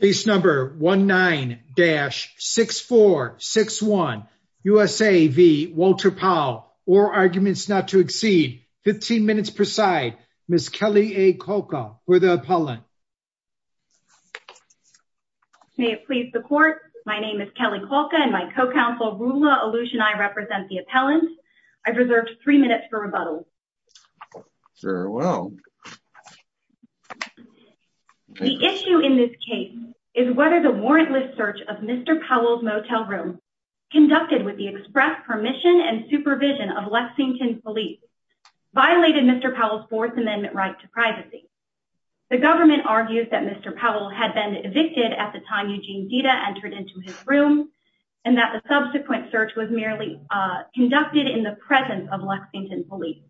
Case number 19-6461 USA v. Walter Powell or arguments not to exceed 15 minutes per side Ms. Kelly A. Kolka for the appellant May it please the court my name is Kelly Kolka and my co-counsel Rula Alush and I represent the appellant I've reserved three minutes for rebuttal Sure well The issue in this case is whether the warrantless search of Mr. Powell's motel room conducted with the express permission and supervision of Lexington police violated Mr. Powell's Fourth Amendment right to privacy the government argues that Mr. Powell had been evicted at the time Eugene Dita entered into his room and that the subsequent search was merely conducted in the presence of Lexington police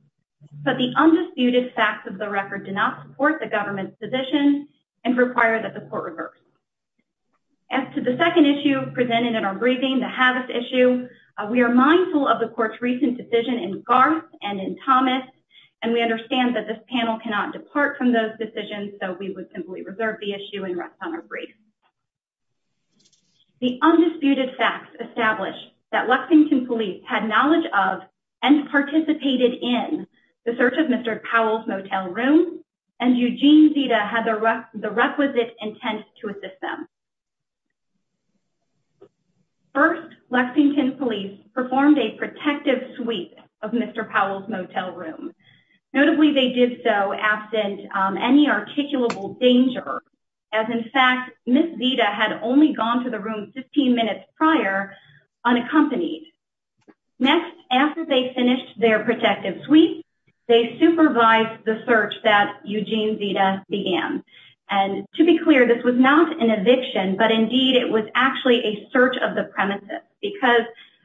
but the undisputed facts of the record do not support the government's position and require that the court reverse As to the second issue presented in our briefing the Havis issue we are mindful of the court's recent decision in Garth and in Thomas and we understand that this panel cannot depart from those decisions so we would simply reserve the issue and rest on our brief The undisputed facts establish that Lexington police had knowledge of and participated in the search of Mr. Powell's motel room and Eugene Dita had the requisite intent to assist them First Lexington police performed a protective sweep of Mr. Powell's motel room notably they did so absent any articulable danger as in fact Miss Dita had only gone to the room 15 minutes prior unaccompanied. Next after they finished their protective sweep they supervised the search that Eugene Dita began and to be clear this was not an eviction but indeed it was actually a search of the premises because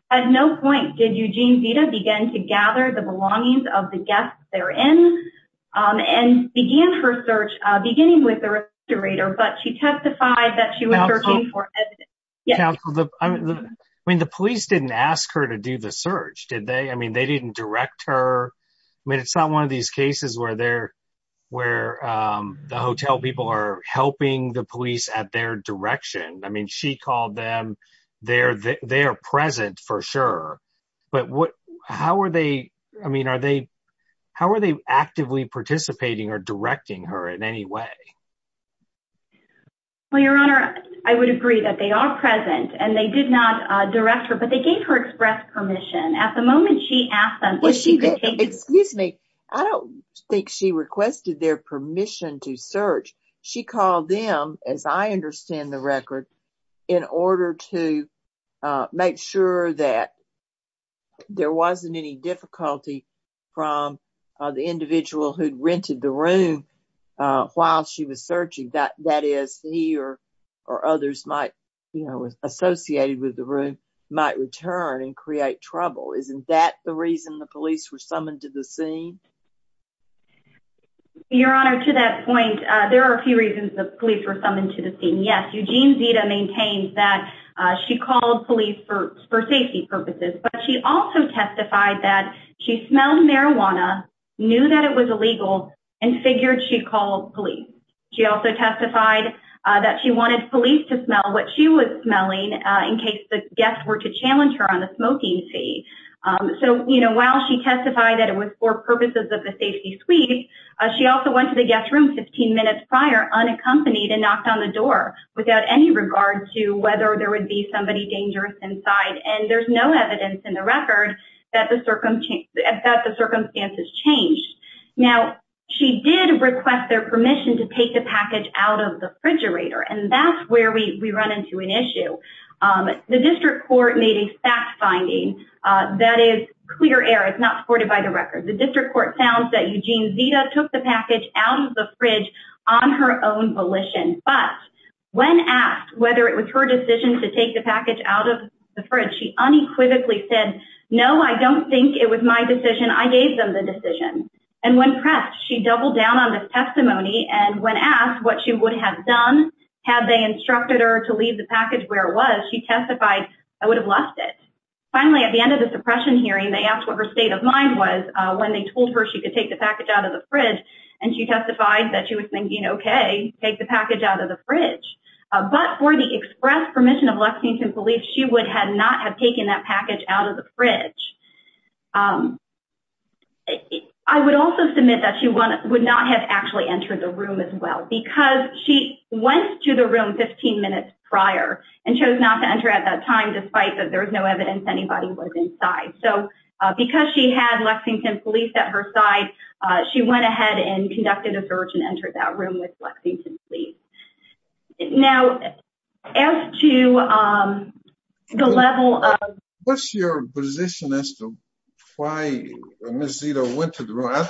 at no point did Eugene Dita begin to gather the belongings of the guests therein and began her search beginning with the restorator but she testified that she was searching Yeah I mean the police didn't ask her to do the search did they I mean they didn't direct her I mean it's not one of these cases where they're where um the hotel people are helping the police at their direction I mean she called them they're they're present for sure but what how are they I mean are they how are they actively participating or directing her in any way Well your honor I would agree that they are present and they did not direct her but they gave her express permission at the moment she asked them well she did excuse me I don't think she requested their permission to search she called them as I understand the record in order to make sure that there wasn't any difficulty from the individual who'd rented the room while she was searching that that is he or or others might you know associated with the room might return and create trouble isn't that the reason the police were summoned to the scene Your honor to that point there are a few reasons the police were summoned to the scene yes Eugene Dita maintains that she called police for for safety purposes but she also testified that she smelled marijuana knew that it was illegal and figured she called police she also testified that she wanted police to smell what she was smelling in case the guests were to challenge her on the smoking fee so you know while she testified that it was for purposes of the safety sweep she also went to the guest room 15 minutes prior unaccompanied and knocked on the door without any regard to whether there would be somebody dangerous inside and there's no evidence in the record that the circum that the circumstances changed now she did request their permission to take the package out of the refrigerator and that's where we we run into an issue um the district court made a fact finding uh that is clear air it's not supported by the record the district court found that Eugene Dita took the package out of the fridge on her own volition but when asked whether it was her decision to take the package out of the fridge she unequivocally said no i don't think it was my decision i gave them the decision and when pressed she doubled down on this testimony and when asked what she would have done had they instructed her to leave the package where it was she testified i would have left it finally at the end of the suppression hearing they asked what her state of mind was uh when they told her she could take the package out of the fridge and she testified that she was thinking okay take the package out of the package out of the fridge um i would also submit that she wanted would not have actually entered the room as well because she went to the room 15 minutes prior and chose not to enter at that time despite that there was no evidence anybody was inside so because she had lexington police at her side uh she went ahead and conducted a search and entered that room with lexington police now as to um the level of what's your position as to why miss zito went to the right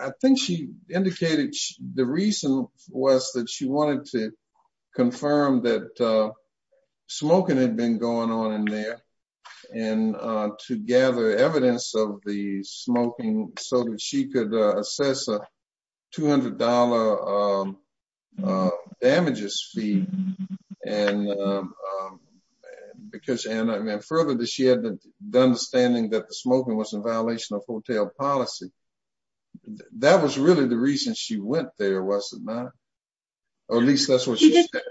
i think she indicated the reason was that she wanted to confirm that uh smoking had been going on in there and uh to gather evidence of the smoking so that she could assess a 200 damages fee and um because and i mean further that she had the understanding that the smoking was in violation of hotel policy that was really the reason she went there was it not or at least that's what she said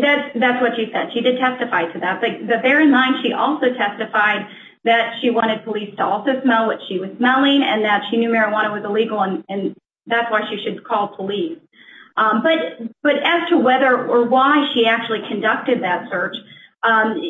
that that's what she said she did testify to that but bear in mind she also testified that she wanted police to also smell what she was smelling and that she knew marijuana was illegal and that's why she should call police um but but as to whether or why she actually conducted that search um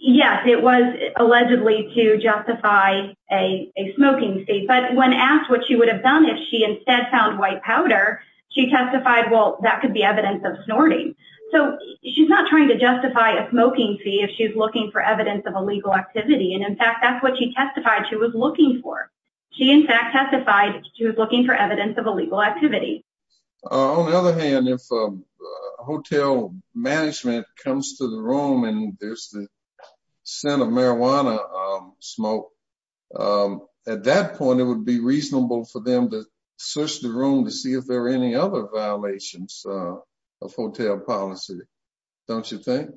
yes it was allegedly to justify a a smoking state but when asked what she would have done if she instead found white powder she testified well that could be evidence of snorting so she's not trying to justify a smoking fee if she's looking for evidence of illegal activity and in fact that's what she testified she was looking for she in fact testified she was looking for evidence of illegal activity on the other hand if hotel management comes to the room and there's the scent of marijuana um smoke um at that point it would be reasonable for them to search the room to see if there are any other violations uh of hotel policy don't you think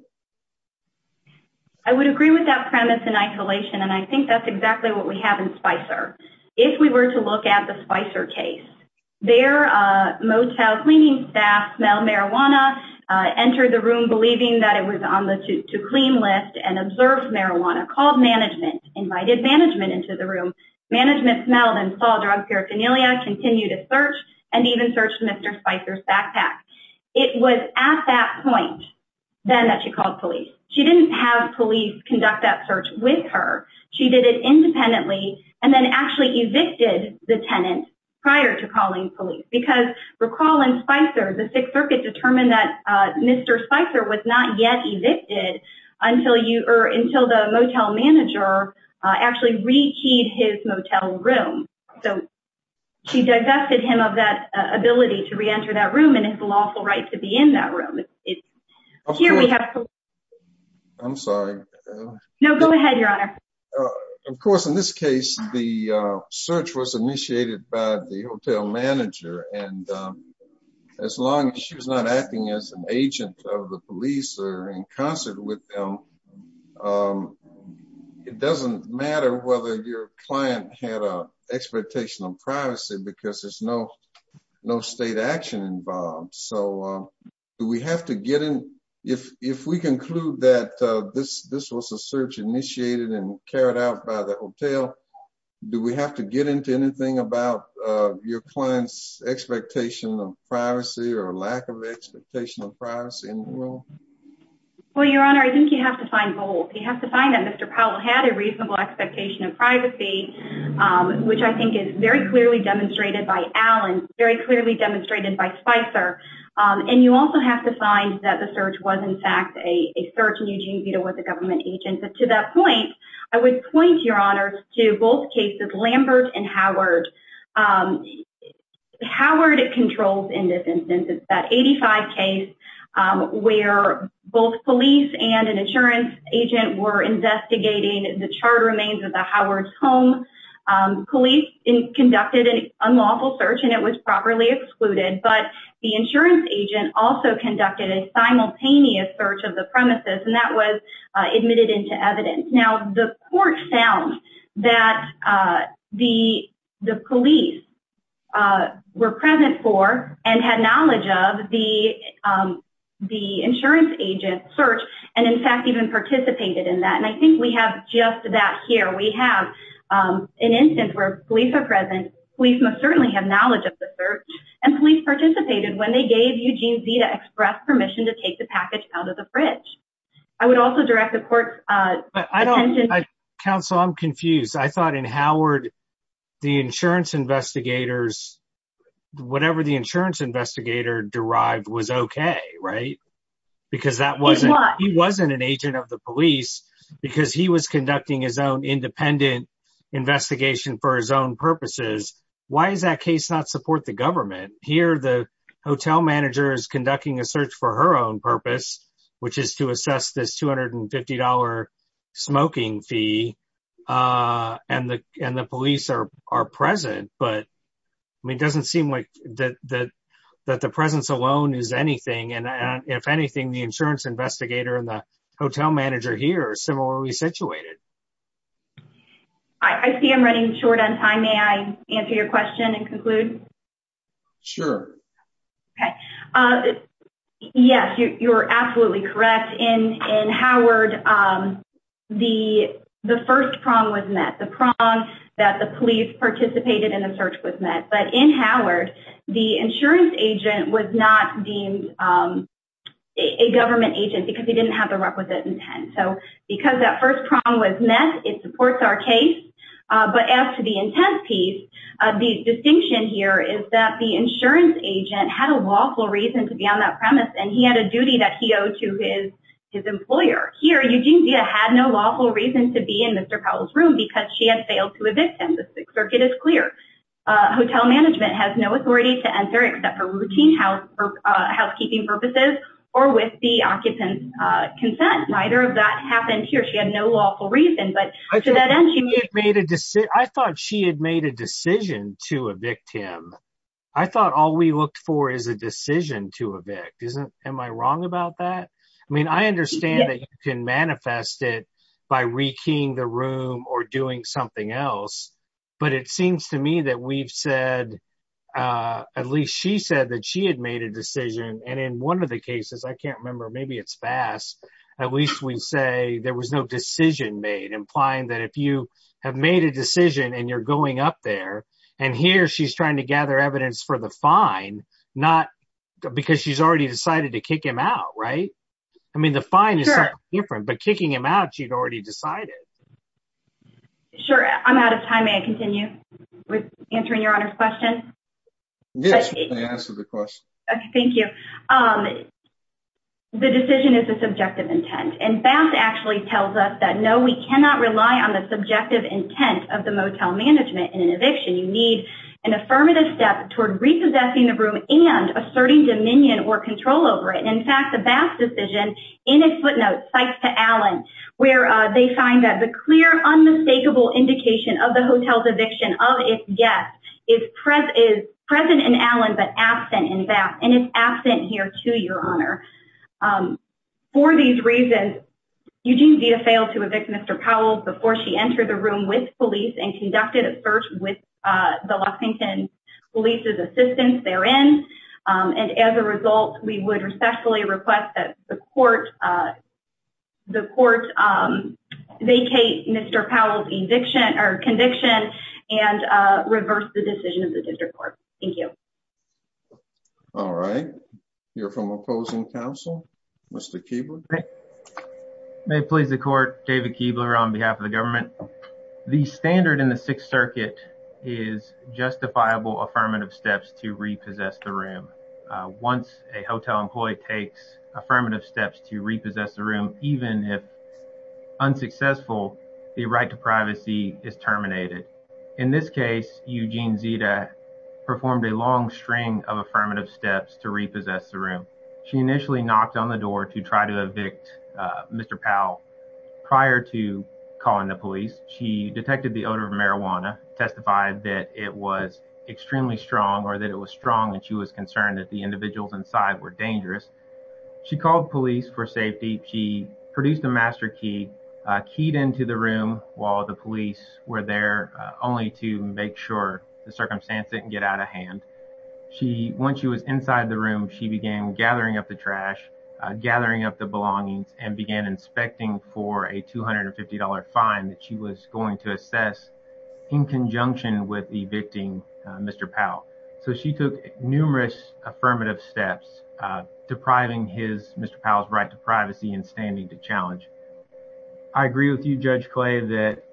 i would agree with that premise in isolation and i think that's exactly what we have in spicer if we were to look at the spicer case their uh motel cleaning staff smell marijuana entered the room believing that it was on the to clean list and observed marijuana called management invited management into the room management smelled and saw drug paraphernalia continue to search and even searched mr spicer's backpack it was at that point then that she called police she didn't have police conduct that search with her she did it independently and then actually evicted the tenant prior to calling police because recall in spicer the sixth circuit determined that uh mr spicer was not yet evicted until you or until the motel manager actually rekeyed his motel room so she divested him of that ability to re-enter that room and his lawful right to be in that room it's here we have i'm sorry no go ahead your honor of course in this case the search was as an agent of the police or in concert with them um it doesn't matter whether your client had a expectation of privacy because there's no no state action involved so um do we have to get in if if we conclude that uh this this was a search initiated and carried out by the hotel do we have to get into anything about uh your client's expectation of privacy or lack of expectation of privacy in the world well your honor i think you have to find both you have to find that mr powell had a reasonable expectation of privacy um which i think is very clearly demonstrated by alan very clearly demonstrated by spicer um and you also have to find that the search was in fact a search and eugene vito was a government agent but to that point i would point your honor to both cases lambert and howard um howard controls in this instance it's that 85 case um where both police and an insurance agent were investigating the charred remains of the howards home um police conducted an unlawful search and it was properly excluded but the insurance agent also conducted a simultaneous search of the premises and that was admitted into evidence now the court found that uh the the police uh were present for and had knowledge of the um the insurance agent search and in fact even participated in that and i think we have just that here we have um an instance where police are present police must certainly have knowledge of the search and police participated when they gave eugene z to express permission to take the package out of the fridge i would i thought in howard the insurance investigators whatever the insurance investigator derived was okay right because that wasn't he wasn't an agent of the police because he was conducting his own independent investigation for his own purposes why does that case not support the government here the hotel manager is conducting a search for her own purpose which is to assess this 250 smoking fee uh and the and the police are are present but i mean it doesn't seem like that that that the presence alone is anything and if anything the insurance investigator and the hotel manager here are similarly situated i i see i'm running short on time may i answer your question and the prong that the police participated in the search was met but in howard the insurance agent was not deemed um a government agent because he didn't have the requisite intent so because that first prong was met it supports our case uh but as to the intense piece uh the distinction here is that the insurance agent had a lawful reason to be on that premise and he had a duty that he because she had failed to evict him the circuit is clear uh hotel management has no authority to enter except for routine house for uh housekeeping purposes or with the occupant uh consent rider of that happened here she had no lawful reason but to that end she made a decision i thought she had made a decision to evict him i thought all we looked for is a decision to evict isn't am i wrong about that i mean i understand that you can manifest it by re-keying the room or doing something else but it seems to me that we've said uh at least she said that she had made a decision and in one of the cases i can't remember maybe it's fast at least we say there was no decision made implying that if you have made a decision and you're going up there and here she's trying to gather evidence for the fine not because she's already decided to kick him out right i mean the fine is different but kicking him out she'd already decided sure i'm out of time may i continue with answering your honor's question yes may i answer the question okay thank you um the decision is a subjective intent and bass actually tells us that no we cannot rely on the subjective intent of the motel management in an eviction you need an affirmative step toward repossessing the room and asserting dominion or control over it in fact the bass decision in its footnotes cites to alan where they find that the clear unmistakable indication of the hotel's eviction of its guests is present is present in alan but absent in bass and it's absent here too your honor um for these reasons eugene vita failed to evict mr powell before she entered the room with police and conducted a search with uh the los angeles police's assistance therein and as a result we would respectfully request that the court uh the court um vacate mr powell's eviction or conviction and uh reverse the decision of the district court thank you all right you're from opposing council mr keebler okay may it please the court david keebler on behalf of the government the standard in the sixth circuit is justifiable affirmative steps to repossess the room once a hotel employee takes affirmative steps to repossess the room even if unsuccessful the right to privacy is terminated in this case eugene zita performed a long string of affirmative steps to repossess the room she initially knocked on the door to try to evict uh mr powell prior to calling the police she detected the odor of marijuana testified that it was extremely strong or that it was strong and she was concerned that the individuals inside were dangerous she called police for safety she produced a master key uh keyed into the room while the police were there only to make sure the circumstance didn't get out of hand she once she was inside the room she began gathering up the trash gathering up the belongings and began inspecting for a 250 fine that she was going to assess in conjunction with evicting mr powell so she took numerous affirmative steps uh depriving his mr powell's right to privacy and standing to challenge i agree with you judge clay that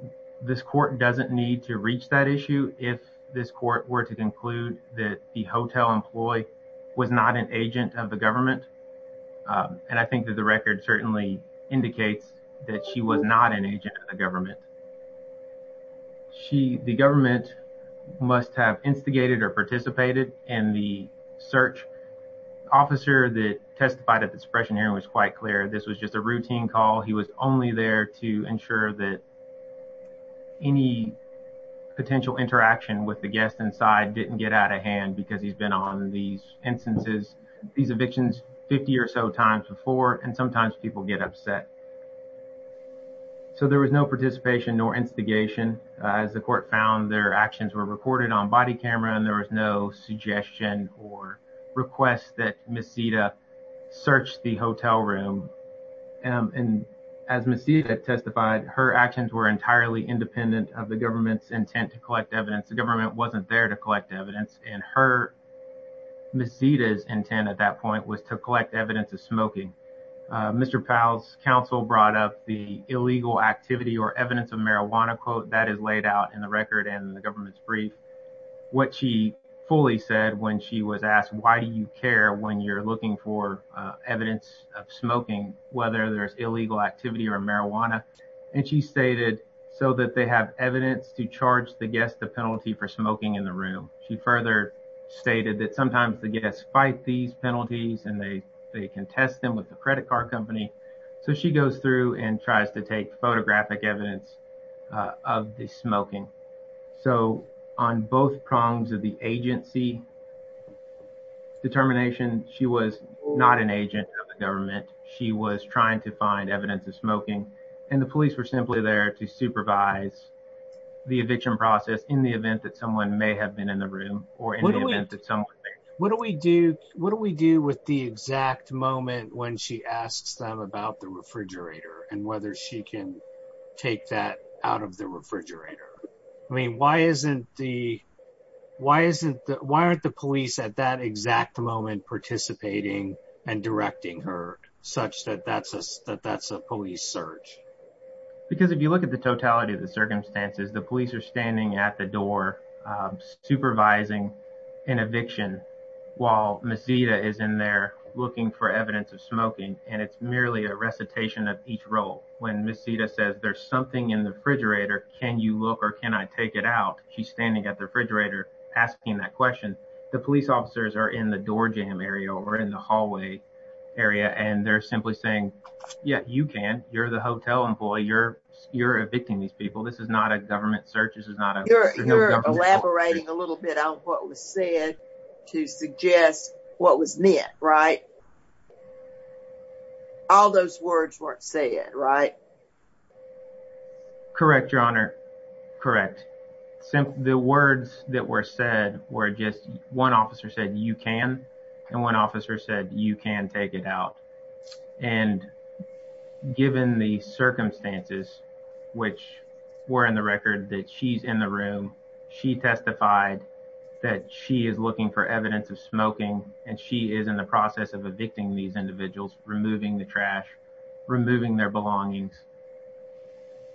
this court doesn't need to reach that issue if this court were to conclude that the hotel employee was not an agent of the government and i think that the record certainly indicates that she was not an agent of the government she the government must have instigated or participated in the search officer that testified at the suppression hearing was quite clear this was just a routine call he was only there to ensure that any potential interaction with the guest inside didn't get out of hand because he's been on these instances these evictions 50 or so times before and sometimes people get upset so there was no participation nor instigation as the court found their actions were recorded on body camera and there was no suggestion or request that misita searched the hotel room and as misita testified her actions were entirely independent of the government's intent to collect evidence the government wasn't there to collect evidence and her misita's intent at that point was to collect evidence of smoking mr powell's counsel brought up the illegal activity or evidence of marijuana quote that is laid out in the record and the government's brief what she fully said when she was asked why do you care when you're looking for evidence of smoking whether there's illegal activity or marijuana and she stated so that they have evidence to charge the guest the penalty for smoking in the room she further stated that sometimes the guests fight these penalties and they they contest them with the credit card company so she goes through and tries to take photographic evidence of the so on both prongs of the agency determination she was not an agent of the government she was trying to find evidence of smoking and the police were simply there to supervise the eviction process in the event that someone may have been in the room or in the event that someone what do we do what do we do with the exact moment when she asks them about the refrigerator and whether she can take that out of the refrigerator i mean why isn't the why isn't the why aren't the police at that exact moment participating and directing her such that that's us that that's a police search because if you look at the totality of the circumstances the police are standing at the door supervising an eviction while misita is in there looking for evidence of smoking and it's merely a recitation of each role when misita says there's something in the refrigerator can you look or can i take it out she's standing at the refrigerator asking that question the police officers are in the door jam area or in the hallway area and they're simply saying yeah you can you're the hotel employee you're you're evicting these people this is not a government search this is not a elaborating a little bit on what was said to suggest what was meant right all those words weren't saying right correct your honor correct simply the words that were said were just one officer said you can and one officer said you can take it out and given the circumstances which were in the record that she's in the room she testified that she is looking for evidence of evicting these individuals removing the trash removing their belongings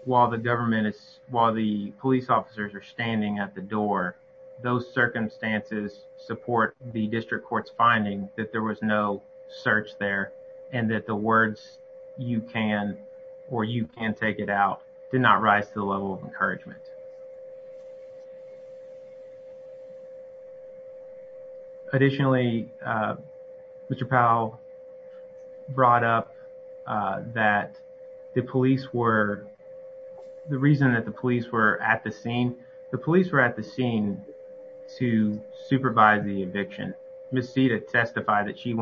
while the government is while the police officers are standing at the door those circumstances support the district court's finding that there was no search there and that the words you can or you can take it out did not rise to the level of encouragement additionally uh mr powell brought up uh that the police were the reason that the police were at the scene the police were at the scene to supervise the eviction misita testified that she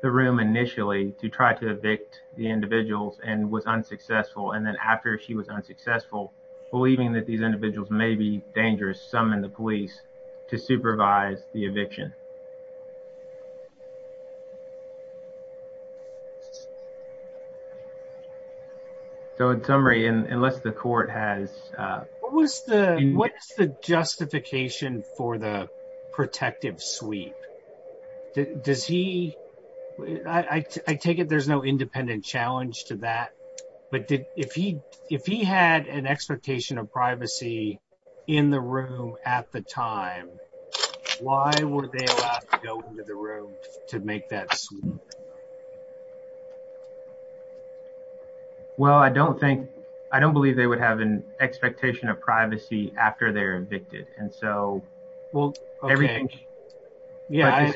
the room initially to try to evict the individuals and was unsuccessful and then after she was unsuccessful believing that these individuals may be dangerous summon the police to supervise the eviction so in summary unless the court has uh what was the what is the justification for the he I take it there's no independent challenge to that but did if he if he had an expectation of privacy in the room at the time why were they allowed to go into the room to make that well I don't think I don't believe they would have an expectation of privacy after they're evicted and so well everything yeah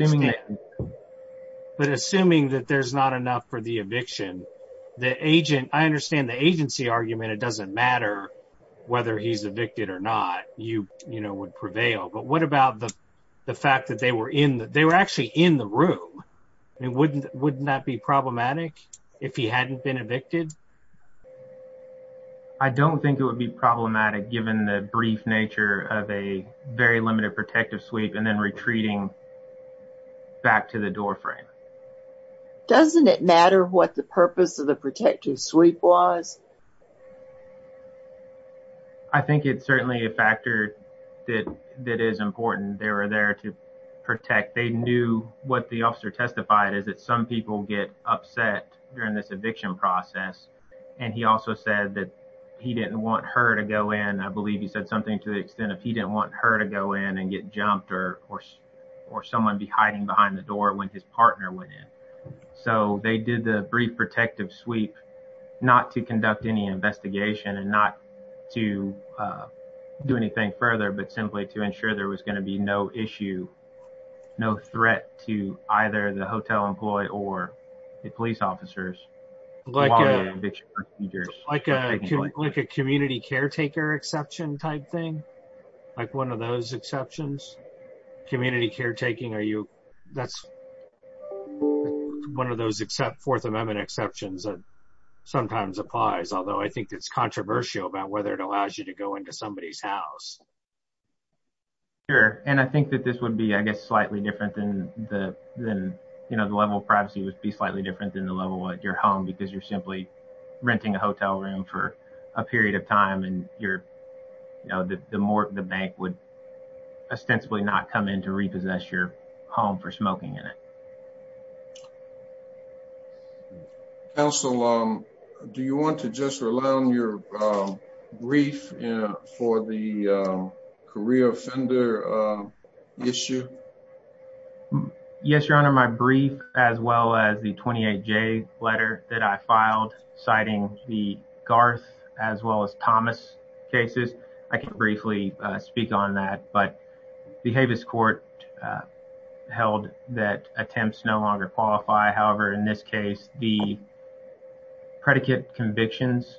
but assuming that there's not enough for the eviction the agent I understand the agency argument it doesn't matter whether he's evicted or not you you know would prevail but what about the the fact that they were in that they were actually in the room and wouldn't wouldn't that be problematic if he hadn't been evicted I don't think it would be problematic given the brief nature of a very limited protective sweep and then retreating back to the doorframe doesn't it matter what the purpose of the protective sweep was I think it's certainly a factor that that is important they were there to protect they knew what the officer testified is that some people get upset during this eviction process and he also said that he didn't want her to go in I believe he said something to the extent of he didn't want her to go in and get jumped or or someone be hiding behind the door when his partner went in so they did the brief protective sweep not to conduct any investigation and not to do anything further but simply to ensure there was going to be no issue no threat to either the hotel employee or the police officers like eviction procedures like a community caretaker exception type thing like one of those exceptions community caretaking are you that's one of those except fourth amendment exceptions that sometimes applies although I think it's controversial about whether it allows you to go into somebody's house sure and I think that this would be I guess privacy would be slightly different than the level of your home because you're simply renting a hotel room for a period of time and you're you know the more the bank would ostensibly not come in to repossess your home for smoking in it counsel do you want to just rely on your brief for the career offender issue um yes your honor my brief as well as the 28j letter that I filed citing the Garth as well as Thomas cases I can briefly speak on that but the Havis court held that attempts no longer qualify however in this case the predicate convictions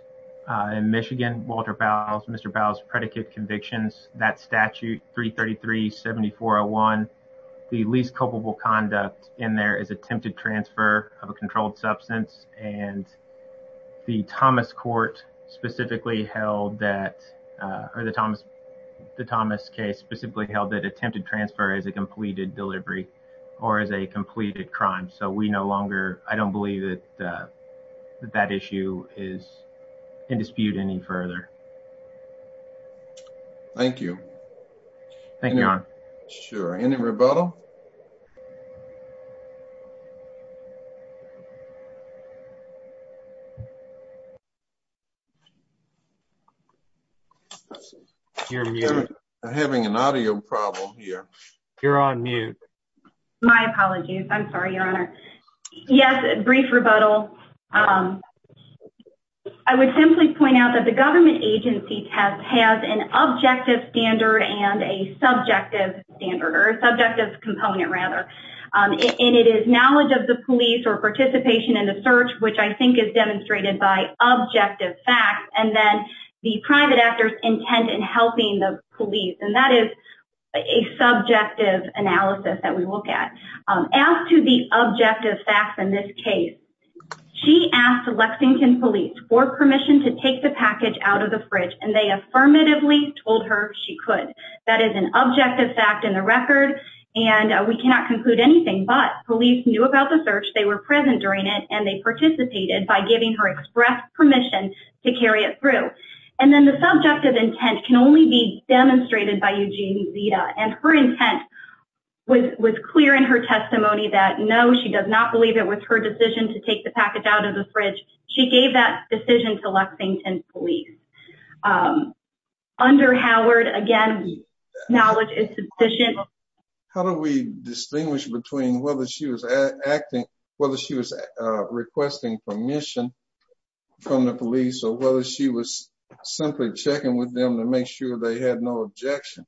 in Michigan Walter Bowles Mr. Bowles predicate convictions that statute 333 7401 the least culpable conduct in there is attempted transfer of a controlled substance and the Thomas court specifically held that uh or the Thomas the Thomas case specifically held that attempted transfer as a completed delivery or as a completed crime so we no longer I don't believe that that issue is in dispute any further thank you thank you sure any rebuttal you're having an audio problem here you're on mute my apologies I'm sorry your honor yes brief rebuttal um I would simply point out that the government agency test has an objective standard and a subjective standard or subjective component rather um and it is knowledge of the police or participation in the search which I think is demonstrated by objective facts and then the private actor's intent in helping the police and that is a subjective analysis that we look at as to the objective facts in this case she asked Lexington police for permission to take the package out of the fridge and they affirmatively told her she could that is an objective fact in the record and we cannot conclude anything but police knew about the search they were present during it and they participated by giving her express permission to carry it through and then the subjective intent can only be demonstrated by Eugene Zita and her intent was clear in her testimony that no she does not believe it was her decision to take the package out of the fridge she gave that decision to Lexington police under Howard again knowledge is sufficient how do we distinguish between whether she was acting whether she was requesting permission from the police or whether she was simply checking with them to make sure they had no objection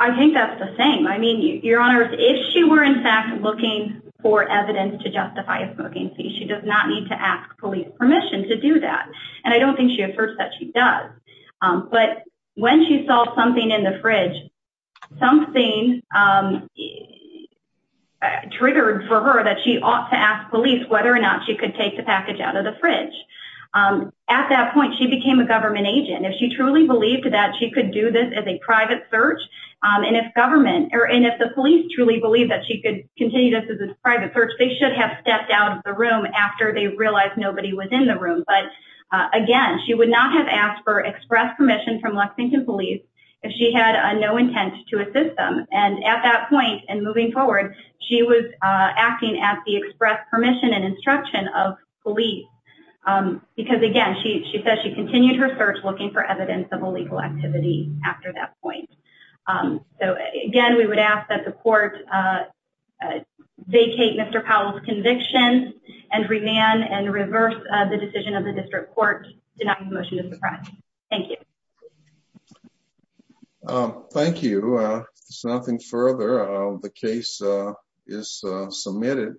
I think that's the same I mean your honor if she were in fact looking for evidence to justify a smoking fee she does not need to ask police permission to do that and I don't think she asserts that she does but when she saw something in the fridge something um triggered for her that she ought to ask police whether or not she could take the point she became a government agent if she truly believed that she could do this as a private search um and if government or and if the police truly believe that she could continue this as a private search they should have stepped out of the room after they realized nobody was in the room but again she would not have asked for express permission from Lexington police if she had no intent to assist them and at that point and moving forward she was uh acting at the express permission and instruction of police um because again she says she continued her search looking for evidence of illegal activity after that point um so again we would ask that the court uh vacate Mr. Powell's conviction and remand and reverse the decision of the district court to deny the motion of the crime thank you um thank you uh something further uh the case uh is uh submitted